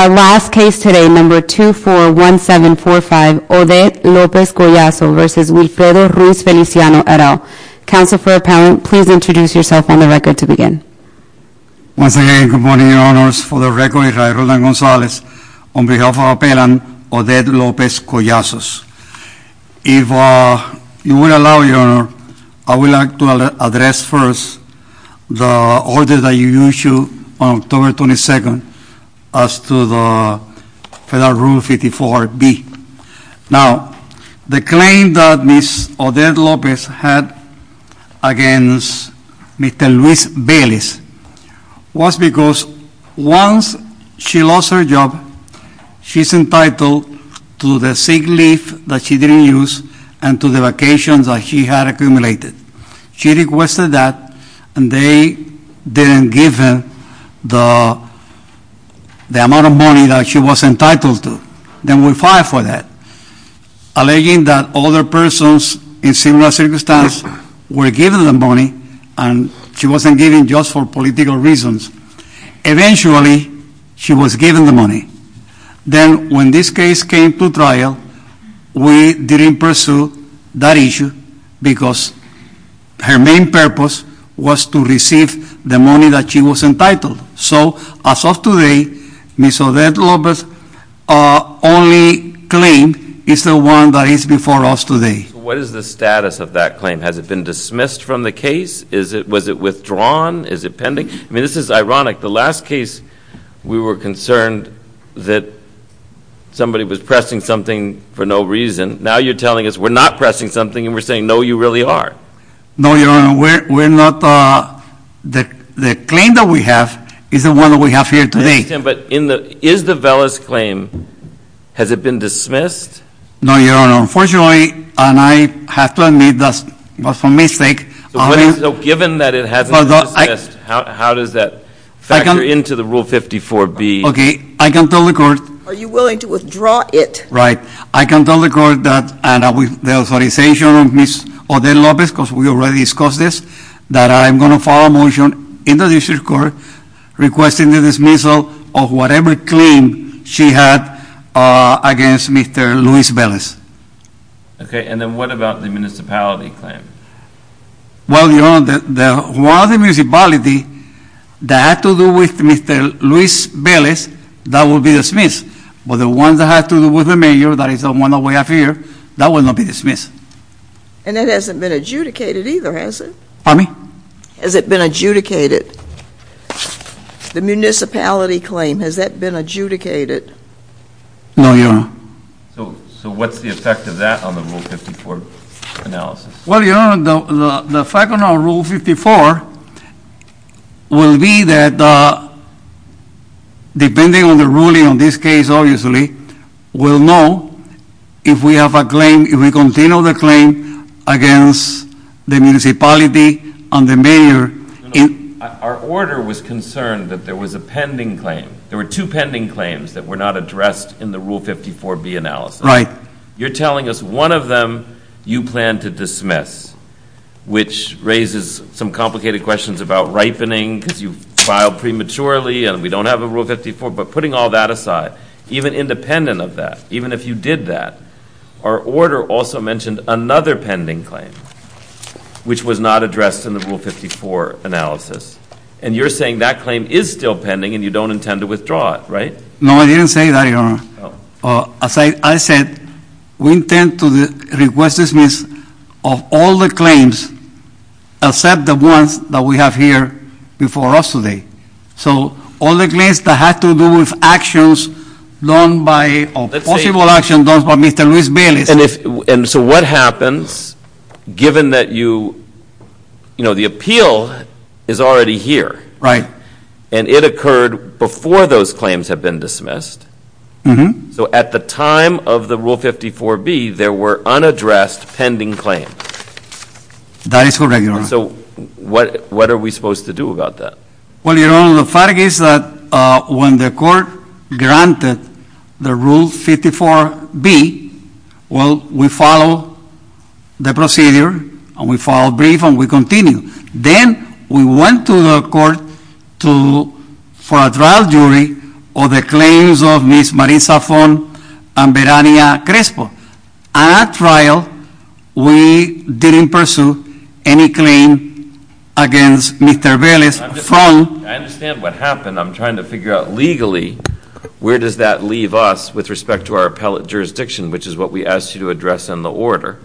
Our last case today, number 241745 Odette Lopez Collazo v. Wilfredo Ruiz-Feliciano, et al. Counsel for appellant, please introduce yourself on the record to begin. Once again, good morning, your honors. For the record, I'm Raul Dan Gonzalez. On behalf of our appellant, Odette Lopez Collazo. If you would allow, your honor, I would like to address first the order that you issued on October 22nd as to the Federal Rule 54B. Now, the claim that Ms. Odette Lopez had against Mr. Luis Velez was because once she lost her job, she's entitled to the sick leave that she didn't use and to the vacations that she had accumulated. She requested that and they didn't give her the amount of money that she was entitled to. Then we filed for that, alleging that other persons in similar circumstances were given the money and she wasn't given just for political reasons. Eventually, she was given the money. Then when this case came to trial, we didn't pursue that issue because her main purpose was to receive the money that she was entitled. So, as of today, Ms. Odette Lopez's only claim is the one that is before us today. What is the status of that claim? Has it been dismissed from the case? Was it withdrawn? Is it pending? I mean, this is ironic. The last case, we were concerned that somebody was pressing something for no reason. Now you're telling us we're not pressing something and we're saying, no, you really are. No, Your Honor. We're not. The claim that we have is the one that we have here today. But is the Velez claim, has it been dismissed? No, Your Honor. Unfortunately, and I have to admit that was a mistake. So, given that it hasn't been dismissed, how does that factor into the Rule 54B? Okay, I can tell the Court. Are you willing to withdraw it? Right. I can tell the Court that, and with the authorization of Ms. Odette Lopez, because we already discussed this, that I'm going to file a motion in the District Court requesting the dismissal of whatever claim she had against Mr. Luis Velez. Okay, and then what about the municipality claim? Well, Your Honor, the municipality that had to do with Mr. Luis Velez, that will be dismissed. But the one that had to do with the mayor, that is the one that we have here, that will not be dismissed. And that hasn't been adjudicated either, has it? Pardon me? Has it been adjudicated? The municipality claim, has that been adjudicated? No, Your Honor. So what's the effect of that on the Rule 54 analysis? Well, Your Honor, the fact on our Rule 54 will be that, depending on the ruling on this case, obviously, we'll know if we have a claim, if we continue the claim against the municipality and the mayor. Our order was concerned that there was a pending claim. There were two pending claims that were not addressed in the Rule 54B analysis. Right. You're telling us one of them you plan to dismiss, which raises some complicated questions about ripening because you filed prematurely and we don't have a Rule 54. But putting all that aside, even independent of that, even if you did that, our order also mentioned another pending claim, which was not addressed in the Rule 54 analysis. And you're saying that claim is still pending and you don't intend to withdraw it, right? No, I didn't say that, Your Honor. As I said, we intend to request dismiss of all the claims except the ones that we have here before us today. So all the claims that have to do with actions done by, or possible actions done by Mr. Luis Velez. And so what happens, given that you, you know, the appeal is already here. Right. And it occurred before those claims have been dismissed. So at the time of the Rule 54B, there were unaddressed pending claims. That is correct, Your Honor. So what are we supposed to do about that? Well, Your Honor, the fact is that when the court granted the Rule 54B, well, we followed the procedure and we followed brief and we continued. Then we went to the court for a trial jury of the claims of Ms. Marisa Fon and Verania Crespo. At that trial, we didn't pursue any claim against Mr. Velez. I understand what happened. I'm trying to figure out legally where does that leave us with respect to our appellate jurisdiction, which is what we asked you to address in the order.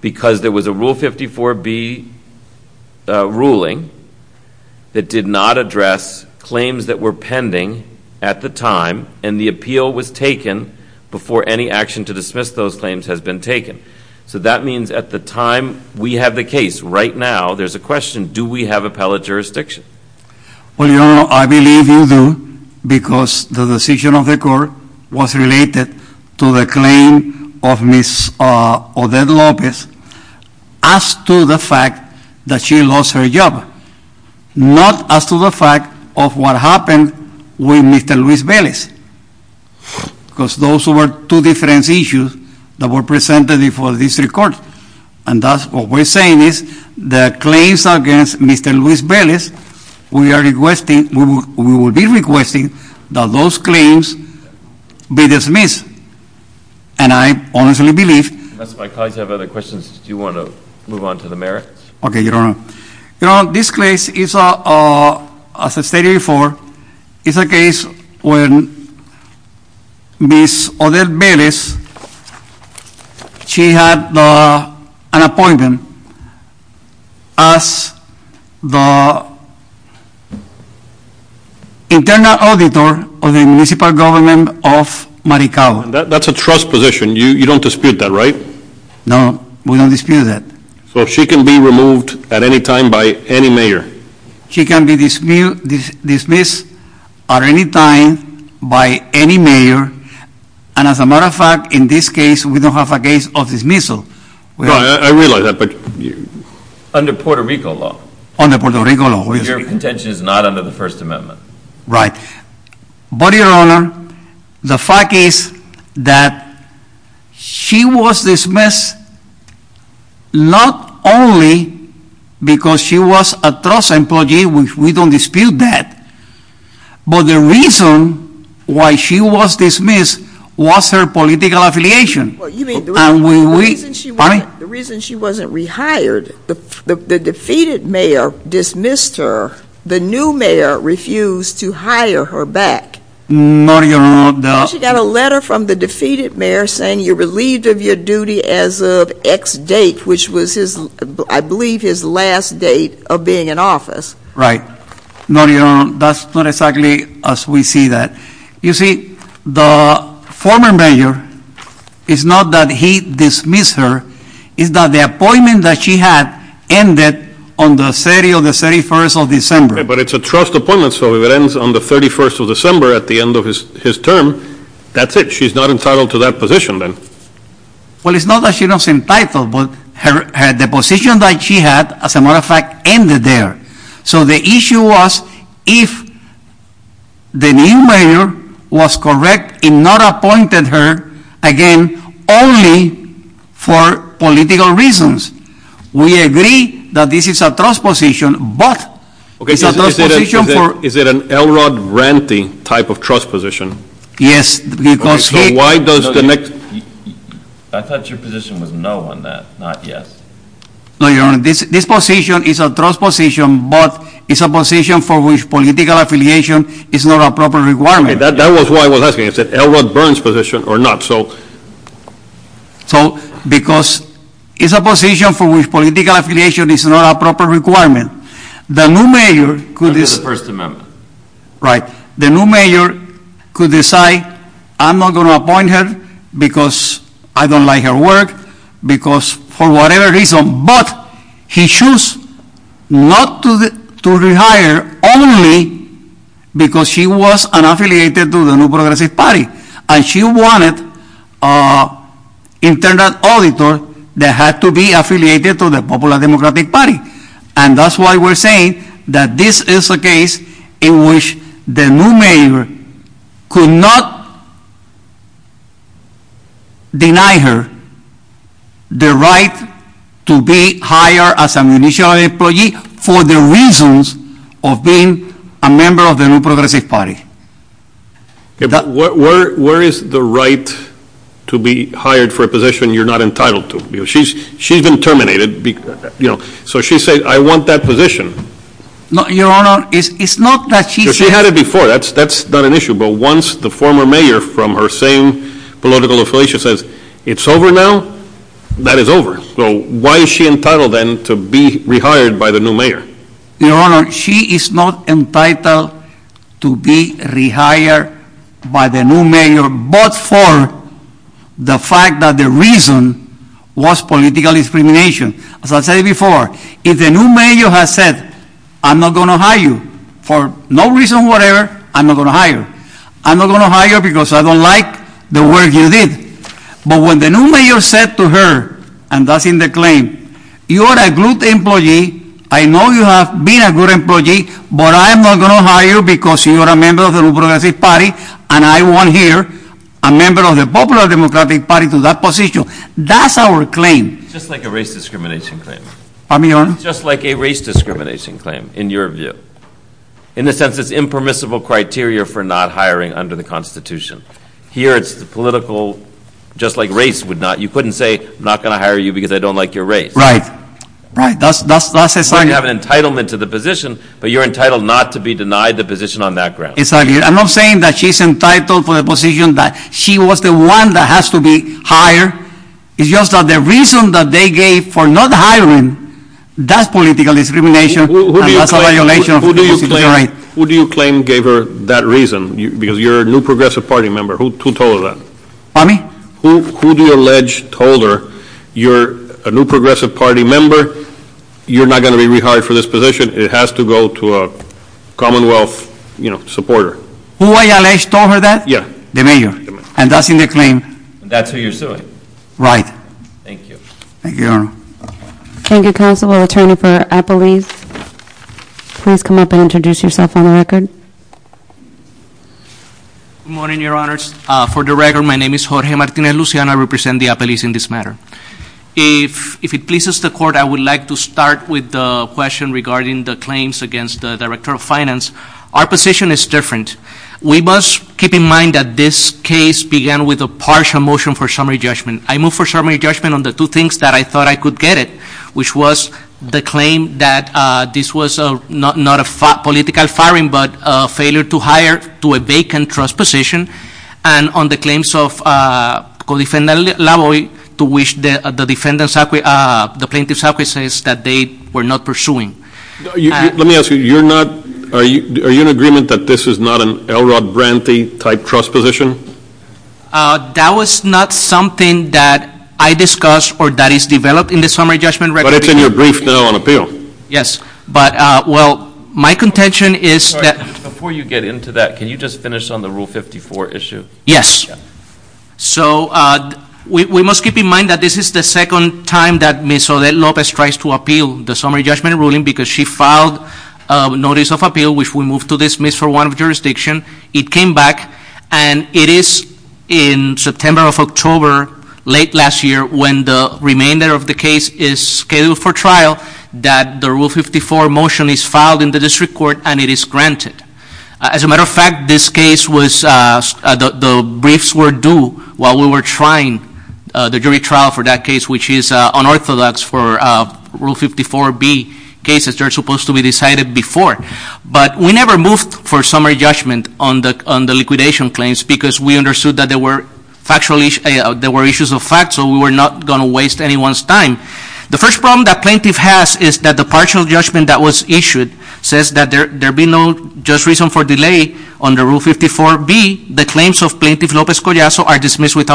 Because there was a Rule 54B ruling that did not address claims that were pending at the time and the appeal was taken before any action to dismiss those claims has been taken. So that means at the time we have the case, right now there's a question, do we have appellate jurisdiction? Well, Your Honor, I believe you do because the decision of the court was related to the claim of Ms. Odette Lopez as to the fact that she lost her job, not as to the fact of what happened with Mr. Luis Velez. Because those were two different issues that were presented before this court. And that's what we're saying is the claims against Mr. Luis Velez, we are requesting, we will be requesting that those claims be dismissed. And I honestly believe... Unless my colleagues have other questions, do you want to move on to the merits? Okay, Your Honor. Your Honor, this case, as stated before, is a case when Ms. Odette Velez, she had an appointment as the internal auditor of the municipal government of Maricaba. That's a trust position. You don't dispute that, right? No, we don't dispute that. So she can be removed at any time by any mayor? She can be dismissed at any time by any mayor. And as a matter of fact, in this case, we don't have a case of dismissal. I realize that, but... Under Puerto Rico law. Under Puerto Rico law. Your contention is not under the First Amendment. Right. But, Your Honor, the fact is that she was dismissed not only because she was a trust employee, we don't dispute that, but the reason why she was dismissed was her political affiliation. You mean the reason she wasn't rehired, the defeated mayor dismissed her, the new mayor refused to hire her back. No, Your Honor, the... She got a letter from the defeated mayor saying you're relieved of your duty as of X date, which was his, I believe, his last date of being in office. Right. No, Your Honor, that's not exactly as we see that. You see, the former mayor, it's not that he dismissed her, it's that the appointment that she had ended on the 31st of December. But it's a trust appointment, so if it ends on the 31st of December at the end of his term, that's it. She's not entitled to that position then. Well, it's not that she's not entitled, but the position that she had, as a matter of fact, ended there. So the issue was if the new mayor was correct in not appointing her again only for political reasons. We agree that this is a trust position, but it's a trust position for... Okay, is it an Elrod Rante type of trust position? Yes, because he... Okay, so why does the next... I thought your position was no on that, not yes. No, Your Honor, this position is a trust position, but it's a position for which political affiliation is not a proper requirement. That was why I was asking if it's an Elrod Burns position or not, so... So, because it's a position for which political affiliation is not a proper requirement. The new mayor could decide... That is the First Amendment. Right. The new mayor could decide, I'm not going to appoint her because I don't like her work, because for whatever reason, but he chose not to rehire only because she was affiliated to the New Progressive Party. And she wanted an internal auditor that had to be affiliated to the Popular Democratic Party. And that's why we're saying that this is a case in which the new mayor could not deny her the right to be hired as an initial employee for the reasons of being a member of the New Progressive Party. Where is the right to be hired for a position you're not entitled to? She's been terminated, so she said, I want that position. No, Your Honor, it's not that she said... She had it before, that's not an issue, but once the former mayor from her same political affiliation says, it's over now, that is over. So, why is she entitled then to be rehired by the new mayor? Your Honor, she is not entitled to be rehired by the new mayor, but for the fact that the reason was political discrimination. As I said before, if the new mayor has said, I'm not going to hire you, for no reason whatever, I'm not going to hire you. I'm not going to hire you because I don't like the work you did. But when the new mayor said to her, and that's in the claim, you are a good employee, I know you have been a good employee, but I'm not going to hire you because you are a member of the New Progressive Party, and I want here a member of the Popular Democratic Party to that position. That's our claim. Just like a race discrimination claim. Pardon me, Your Honor? Just like a race discrimination claim, in your view. In the sense it's impermissible criteria for not hiring under the Constitution. Here it's political, just like race would not. You couldn't say, I'm not going to hire you because I don't like your race. Right. Right. That's a sign. You have an entitlement to the position, but you're entitled not to be denied the position on that ground. Exactly. I'm not saying that she's entitled for the position that she was the one that has to be hired. It's just that the reason that they gave for not hiring, that's political discrimination. Who do you claim gave her that reason? Because you're a New Progressive Party member. Who told her that? Pardon me? Who do you allege told her, you're a New Progressive Party member, you're not going to be rehired for this position, it has to go to a Commonwealth supporter? Who I allege told her that? Yeah. The Mayor. And that's in the claim. That's who you're suing. Right. Thank you. Thank you, Your Honor. Thank you, Counselor. Counselor, Attorney for Appellees, please come up and introduce yourself on the record. Good morning, Your Honors. For the record, my name is Jorge Martinez-Luciano. I represent the appellees in this matter. If it pleases the Court, I would like to start with a question regarding the claims against the Director of Finance. Our position is different. We must keep in mind that this case began with a partial motion for summary judgment. I move for summary judgment on the two things that I thought I could get it, which was the claim that this was not a political firing but a failure to hire to a vacant trust position, and on the claims of Co-Defendant Lavoie to which the Plaintiff's Office says that they were not pursuing. Let me ask you, are you in agreement that this is not an Elrod Brantley-type trust position? That was not something that I discussed or that is developed in the summary judgment record. But it's in your brief, though, on appeal. Yes. But, well, my contention is that – Before you get into that, can you just finish on the Rule 54 issue? Yes. So we must keep in mind that this is the second time that Ms. Odette Lopez tries to appeal the summary judgment ruling because she filed a notice of appeal, which we move to dismiss for one of jurisdiction. It came back, and it is in September of October, late last year, when the remainder of the case is scheduled for trial, that the Rule 54 motion is filed in the district court and it is granted. As a matter of fact, this case was – the briefs were due while we were trying the jury trial for that case, which is unorthodox for Rule 54B cases. They're supposed to be decided before. But we never moved for summary judgment on the liquidation claims because we understood that there were issues of fact, so we were not going to waste anyone's time. The first problem that plaintiff has is that the partial judgment that was issued says that there be no just reason for delay under Rule 54B. The claims of Plaintiff Lopez Collazo are dismissed with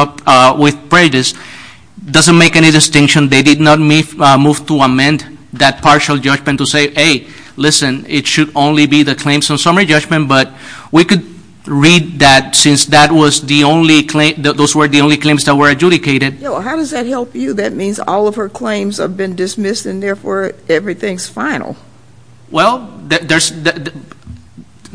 prejudice. It doesn't make any distinction. They did not move to amend that partial judgment to say, hey, listen, it should only be the claims of summary judgment. But we could read that since those were the only claims that were adjudicated. How does that help you? That means all of her claims have been dismissed, and therefore everything's final. Well, they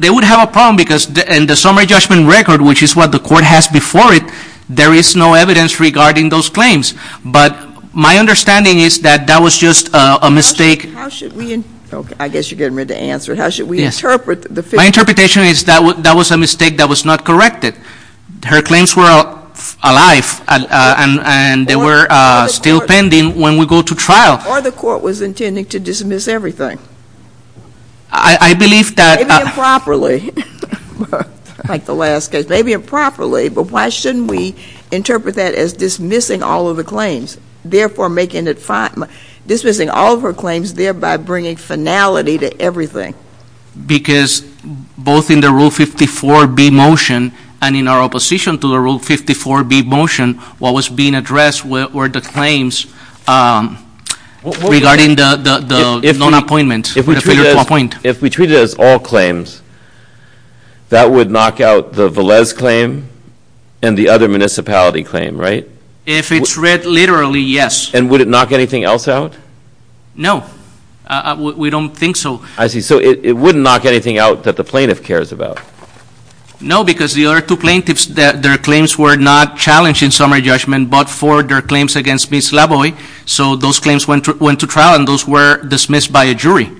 would have a problem because in the summary judgment record, which is what the court has before it, there is no evidence regarding those claims. But my understanding is that that was just a mistake. How should we – I guess you're getting ready to answer it. How should we interpret the – My interpretation is that that was a mistake that was not corrected. Her claims were alive, and they were still pending when we go to trial. Or the court was intending to dismiss everything. I believe that – Maybe improperly, like the last case. Maybe improperly, but why shouldn't we interpret that as dismissing all of the claims, therefore making it – dismissing all of her claims, thereby bringing finality to everything? Because both in the Rule 54b motion and in our opposition to the Rule 54b motion, what was being addressed were the claims regarding the non-appointment. If we treat it as all claims, that would knock out the Velez claim and the other municipality claim, right? If it's read literally, yes. And would it knock anything else out? No. We don't think so. I see. So it wouldn't knock anything out that the plaintiff cares about. No, because the other two plaintiffs, their claims were not challenged in summary judgment, but for their claims against Ms. Laboy. So those claims went to trial, and those were dismissed by a jury.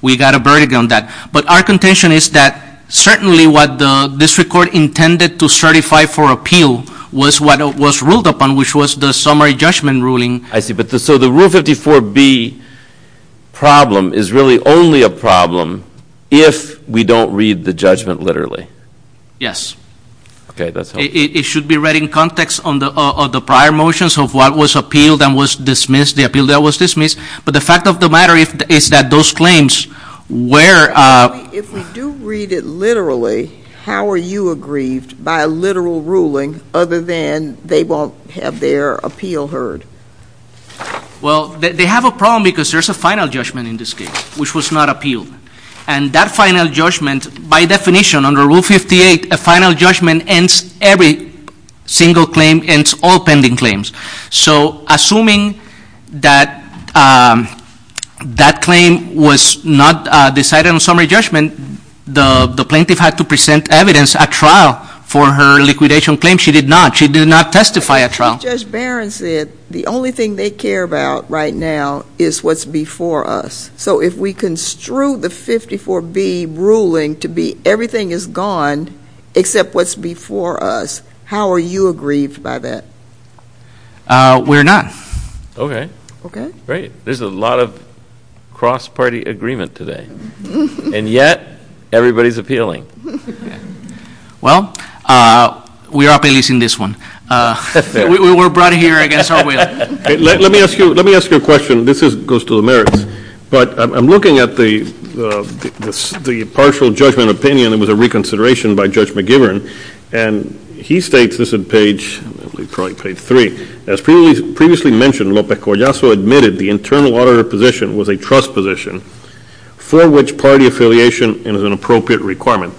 We got a verdict on that. But our contention is that certainly what the district court intended to certify for appeal was what was ruled upon, which was the summary judgment ruling. I see. So the Rule 54b problem is really only a problem if we don't read the judgment literally. Yes. Okay, that's helpful. It should be read in context of the prior motions of what was appealed and was dismissed, the appeal that was dismissed. But the fact of the matter is that those claims were— If we do read it literally, how are you aggrieved by a literal ruling other than they won't have their appeal heard? Well, they have a problem because there's a final judgment in this case, which was not appealed. And that final judgment, by definition, under Rule 58, a final judgment ends every single claim, ends all pending claims. So assuming that that claim was not decided on summary judgment, the plaintiff had to present evidence at trial for her liquidation claim. She did not. She did not testify at trial. Judge Barron said the only thing they care about right now is what's before us. So if we construe the 54b ruling to be everything is gone except what's before us, how are you aggrieved by that? We're not. Okay. Okay? Great. There's a lot of cross-party agreement today. And yet, everybody's appealing. Well, we are appeasing this one. We were brought here against our will. Let me ask you a question. This goes to the merits. But I'm looking at the partial judgment opinion that was a reconsideration by Judge McGibbon, and he states this on page 3, as previously mentioned, Lope Collazo admitted the internal auditor position was a trust position for which party affiliation is an appropriate requirement.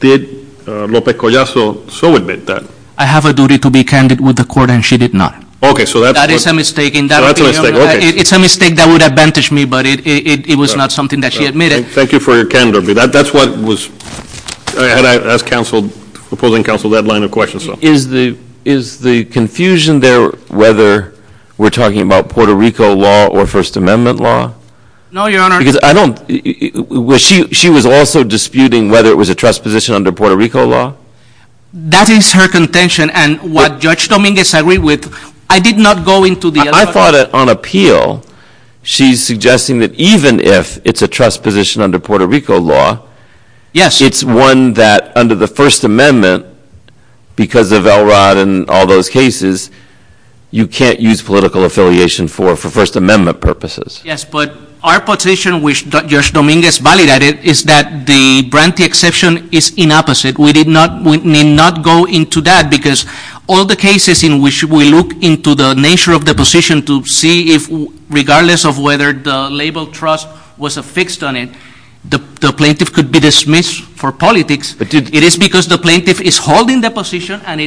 Did Lope Collazo so admit that? I have a duty to be candid with the court, and she did not. Okay. That is a mistake in that opinion. So that's a mistake. Okay. It's a mistake that would advantage me, but it was not something that she admitted. Thank you for your candor. But that's what was ‑‑ I had to ask opposing counsel that line of questions. Is the confusion there whether we're talking about Puerto Rico law or First Amendment law? No, Your Honor. Because I don't ‑‑ she was also disputing whether it was a trust position under Puerto Rico law? That is her contention, and what Judge Dominguez agreed with, I did not go into the other ‑‑ I thought on appeal, she's suggesting that even if it's a trust position under Puerto Rico law, it's one that under the First Amendment, because of Elrod and all those cases, you can't use political affiliation for First Amendment purposes. Yes, but our position, which Judge Dominguez validated, is that the Branti exception is inopposite. We need not go into that, because all the cases in which we look into the nature of the position to see if regardless of whether the label trust was affixed on it, the plaintiff could be dismissed for politics. It is because the plaintiff is holding the position, and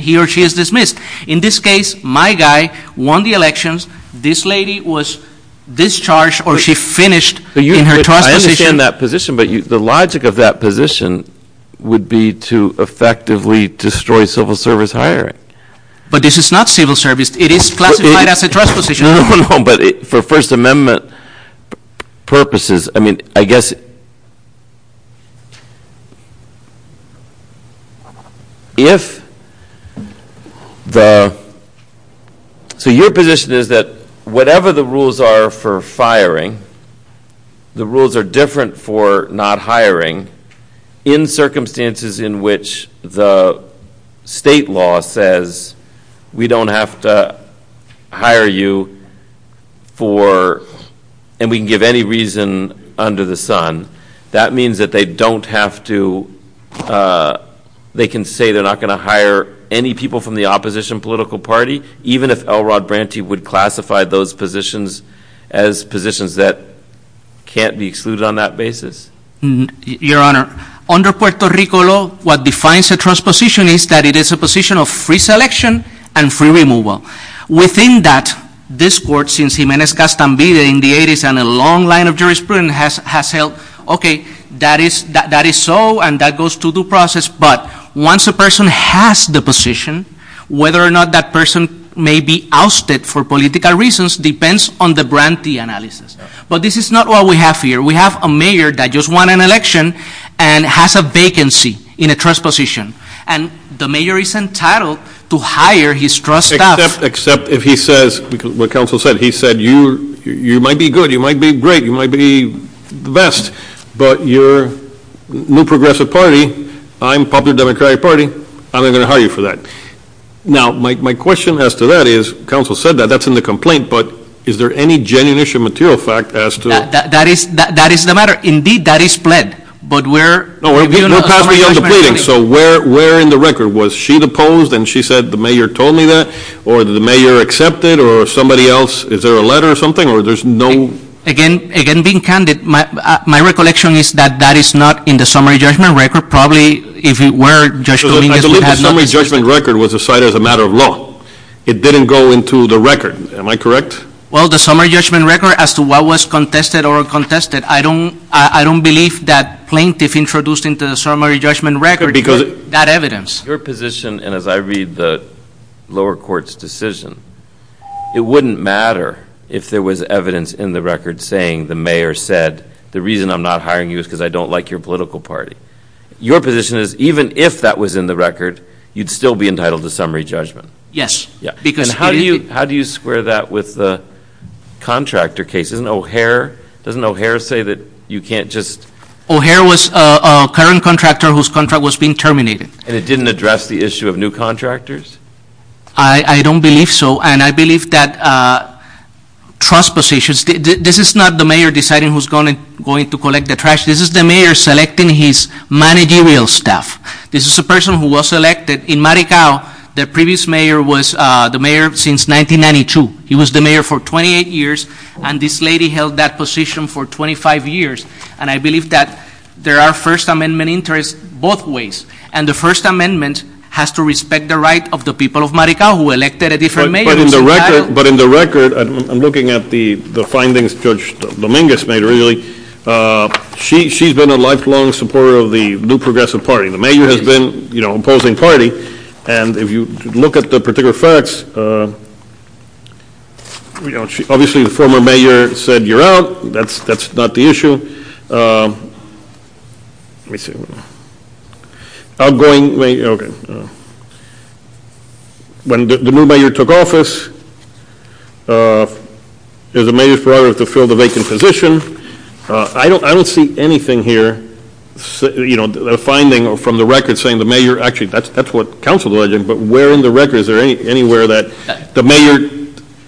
he or she is dismissed. In this case, my guy won the elections. This lady was discharged, or she finished in her trust position. I understand that position, but the logic of that position would be to effectively destroy civil service hiring. But this is not civil service. It is classified as a trust position. No, but for First Amendment purposes, I mean, I guess if the ‑‑ So your position is that whatever the rules are for firing, the rules are different for not hiring, in circumstances in which the state law says we don't have to hire you for, and we can give any reason under the sun. That means that they don't have to, they can say they're not going to hire any people from the opposition political party, even if Elrod Branty would classify those positions as positions that can't be excluded on that basis. Your Honor, under Puerto Rico law, what defines a trust position is that it is a position of free selection and free removal. Within that, this court, since Jimenez-Castaneda in the 80s and a long line of jurisprudence has held, okay, that is so, and that goes through the process, but once a person has the position, whether or not that person may be ousted for political reasons depends on the Branty analysis. But this is not what we have here. We have a mayor that just won an election and has a vacancy in a trust position. And the mayor is entitled to hire his trust staff. Except if he says, what counsel said, he said you might be good, you might be great, you might be the best, but you're New Progressive Party, I'm Popular Democratic Party, I'm not going to hire you for that. Now, my question as to that is, counsel said that, that's in the complaint, but is there any genuine issue of material fact as to That is the matter. Indeed, that is pled, but we're No, we're past beyond the pleading, so where in the record? Was she deposed and she said the mayor told me that, or the mayor accepted, or somebody else, is there a letter or something, or there's no Again, being candid, my recollection is that that is not in the summary judgment record. Probably, if it were, I believe the summary judgment record was decided as a matter of law. It didn't go into the record. Am I correct? Well, the summary judgment record, as to what was contested or contested, I don't believe that plaintiff introduced into the summary judgment record that evidence. Your position, and as I read the lower court's decision, it wouldn't matter if there was evidence in the record saying the mayor said, the reason I'm not hiring you is because I don't like your political party. Your position is, even if that was in the record, you'd still be entitled to summary judgment. Yes. And how do you square that with the contractor case? Isn't O'Hare, doesn't O'Hare say that you can't just O'Hare was a current contractor whose contract was being terminated. And it didn't address the issue of new contractors? I don't believe so, and I believe that trust positions, this is not the mayor deciding who's going to collect the trash. This is the mayor selecting his managerial staff. This is a person who was elected in Maricao. The previous mayor was the mayor since 1992. He was the mayor for 28 years, and this lady held that position for 25 years. And I believe that there are First Amendment interests both ways. And the First Amendment has to respect the right of the people of Maricao who elected a different mayor. But in the record, I'm looking at the findings Judge Dominguez made, really. She's been a lifelong supporter of the New Progressive Party. The mayor has been, you know, opposing party. And if you look at the particular facts, obviously the former mayor said you're out. That's not the issue. When the new mayor took office, it was the mayor's priority to fill the vacant position. I don't see anything here, you know, a finding from the record saying the mayor, actually that's what counsel is alleging, but where in the record is there anywhere that the mayor,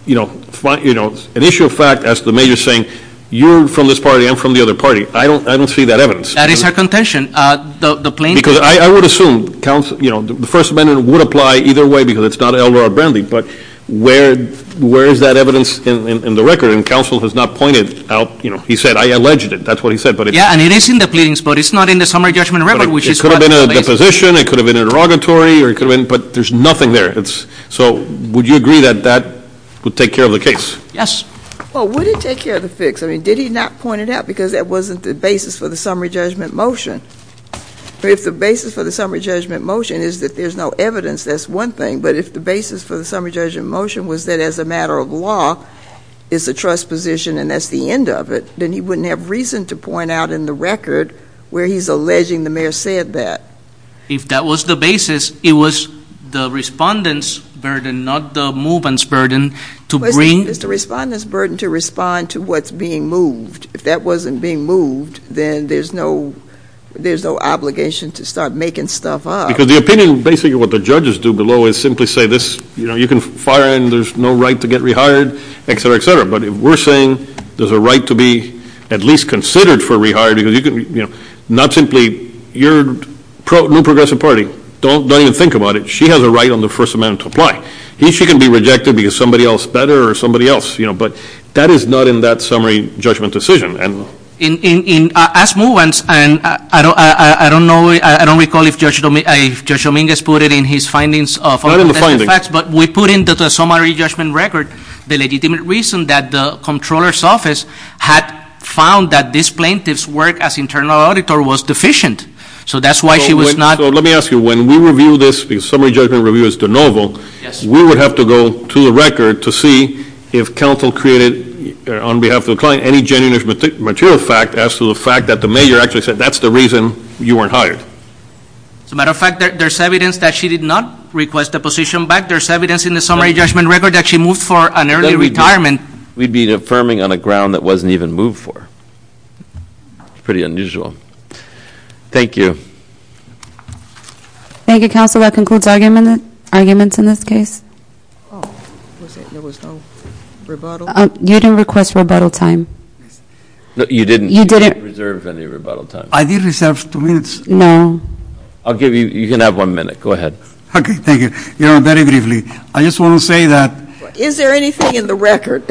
you know, an issue of fact as the mayor is saying, you're from this party, I'm from the other party. I don't see that evidence. That is her contention. Because I would assume, you know, the First Amendment would apply either way because it's not Elroy or Brandy, but where is that evidence in the record? And counsel has not pointed out, you know, he said I alleged it. That's what he said. Yeah, and it is in the pleadings, but it's not in the summary judgment record. It could have been a deposition, it could have been an inauguratory, but there's nothing there. So would you agree that that would take care of the case? Yes. Well, would it take care of the fix? I mean, did he not point it out? Because that wasn't the basis for the summary judgment motion. If the basis for the summary judgment motion is that there's no evidence, that's one thing. But if the basis for the summary judgment motion was that as a matter of law, it's a trust position and that's the end of it, then he wouldn't have reason to point out in the record where he's alleging the mayor said that. If that was the basis, it was the respondent's burden, not the movement's burden, to bring It's the respondent's burden to respond to what's being moved. If that wasn't being moved, then there's no obligation to start making stuff up. Because the opinion, basically what the judges do below is simply say, you can fire him, there's no right to get rehired, et cetera, et cetera. But if we're saying there's a right to be at least considered for rehiring, not simply your new progressive party, don't even think about it. She has a right on the first amendment to apply. Here she can be rejected because somebody else better or somebody else. But that is not in that summary judgment decision. As movements, and I don't recall if Judge Dominguez put it in his findings, but we put in the summary judgment record the legitimate reason that the Comptroller's Office had found that this plaintiff's work as internal auditor was deficient. So that's why she was not So let me ask you, when we review this, because summary judgment review is de novo, we would have to go to the record to see if counsel created, on behalf of the client, any genuine material fact as to the fact that the major actually said, that's the reason you weren't hired. As a matter of fact, there's evidence that she did not request the position back. There's evidence in the summary judgment record that she moved for an early retirement. We'd be affirming on a ground that wasn't even moved for. It's pretty unusual. Thank you. Thank you, counsel. That concludes arguments in this case. There was no rebuttal? You didn't request rebuttal time. You didn't reserve any rebuttal time. I did reserve two minutes. No. I'll give you, you can have one minute. Go ahead. Okay, thank you. Very briefly, I just want to say that Is there anything in the record?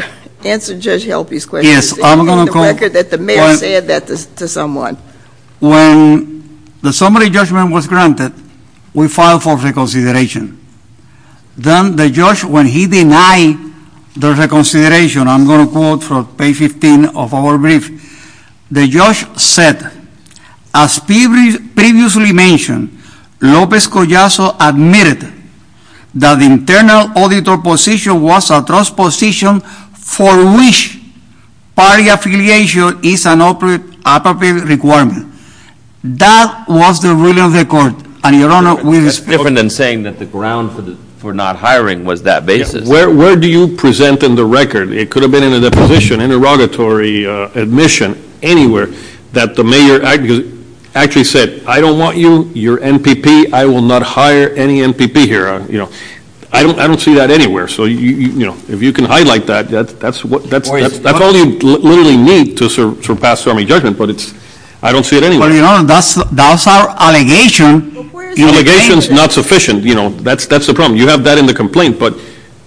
Answer Judge Helpy's question. Is there anything in the record that the mayor said that to someone? When the summary judgment was granted, we filed for reconsideration. Then the judge, when he denied the reconsideration, I'm going to quote from page 15 of our brief. The judge said, As previously mentioned, Lopez Collazo admitted that the internal auditor position was a trust position for which party affiliation is an appropriate requirement. That was the ruling of the court. And, Your Honor, we respectfully That's different than saying that the ground for not hiring was that basis. Where do you present in the record? It could have been in a deposition, interrogatory, admission, anywhere. That the mayor actually said, I don't want you, you're MPP, I will not hire any MPP here. I don't see that anywhere. So if you can hide like that, that's all you literally need to surpass summary judgment. But I don't see it anywhere. Well, Your Honor, that's our allegation. Your allegation is not sufficient. That's the problem. You have that in the complaint. But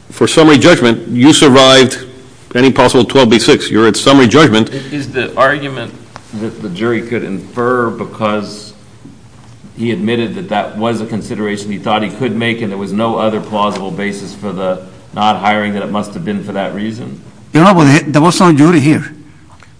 for summary judgment, you survived any possible 12B6. You're at summary judgment. Is the argument that the jury could infer because he admitted that that was a consideration he thought he could make and there was no other plausible basis for the not hiring that it must have been for that reason? Your Honor, there was no jury here.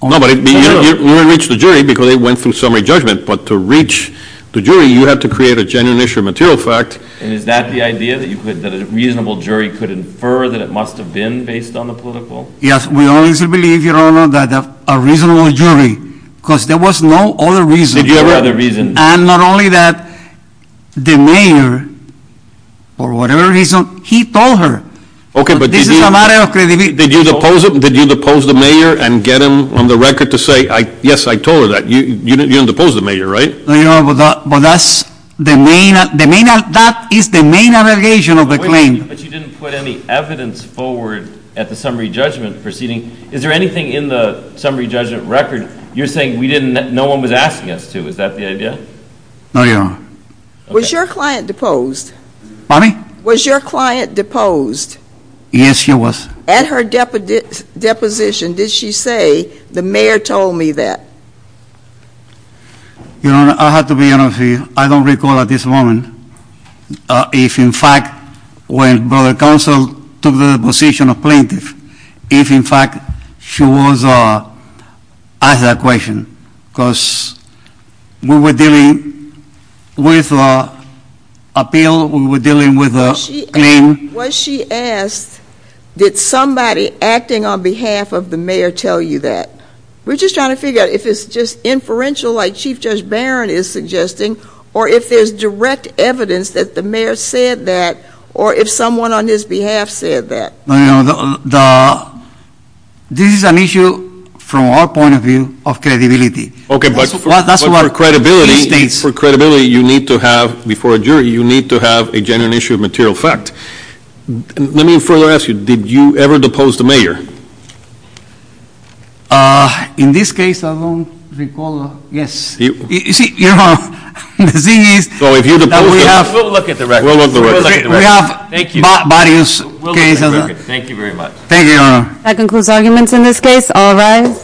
No, but you didn't reach the jury because it went through summary judgment. But to reach the jury, you have to create a genuine issue of material fact. And is that the idea, that a reasonable jury could infer that it must have been based on the political? Yes, we always believe, Your Honor, that a reasonable jury, because there was no other reason. Did you have another reason? And not only that, the mayor, for whatever reason, he told her. Okay, but did you... This is a matter of credibility. Did you depose him? Did you depose the mayor and get him on the record to say, yes, I told her that? You didn't depose the mayor, right? No, Your Honor, but that is the main allegation of the claim. But you didn't put any evidence forward at the summary judgment proceeding. Is there anything in the summary judgment record you're saying no one was asking us to? Is that the idea? No, Your Honor. Was your client deposed? Pardon me? Was your client deposed? Yes, she was. At her deposition, did she say, the mayor told me that? Your Honor, I have to be honest with you. I don't recall at this moment if, in fact, when the council took the position of plaintiff, if, in fact, she was asked that question, because we were dealing with an appeal. We were dealing with a claim. When she asked, did somebody acting on behalf of the mayor tell you that? We're just trying to figure out if it's just inferential like Chief Judge Barron is suggesting or if there's direct evidence that the mayor said that or if someone on his behalf said that. Your Honor, this is an issue, from our point of view, of credibility. Okay, but for credibility you need to have, before a jury, you need to have a genuine issue of material fact. Let me further ask you, did you ever depose the mayor? In this case, I don't recall. You see, Your Honor, the thing is that we have- We'll look at the record. We'll look at the record. We have various cases. Thank you very much. Thank you, Your Honor. That concludes arguments in this case. All rise.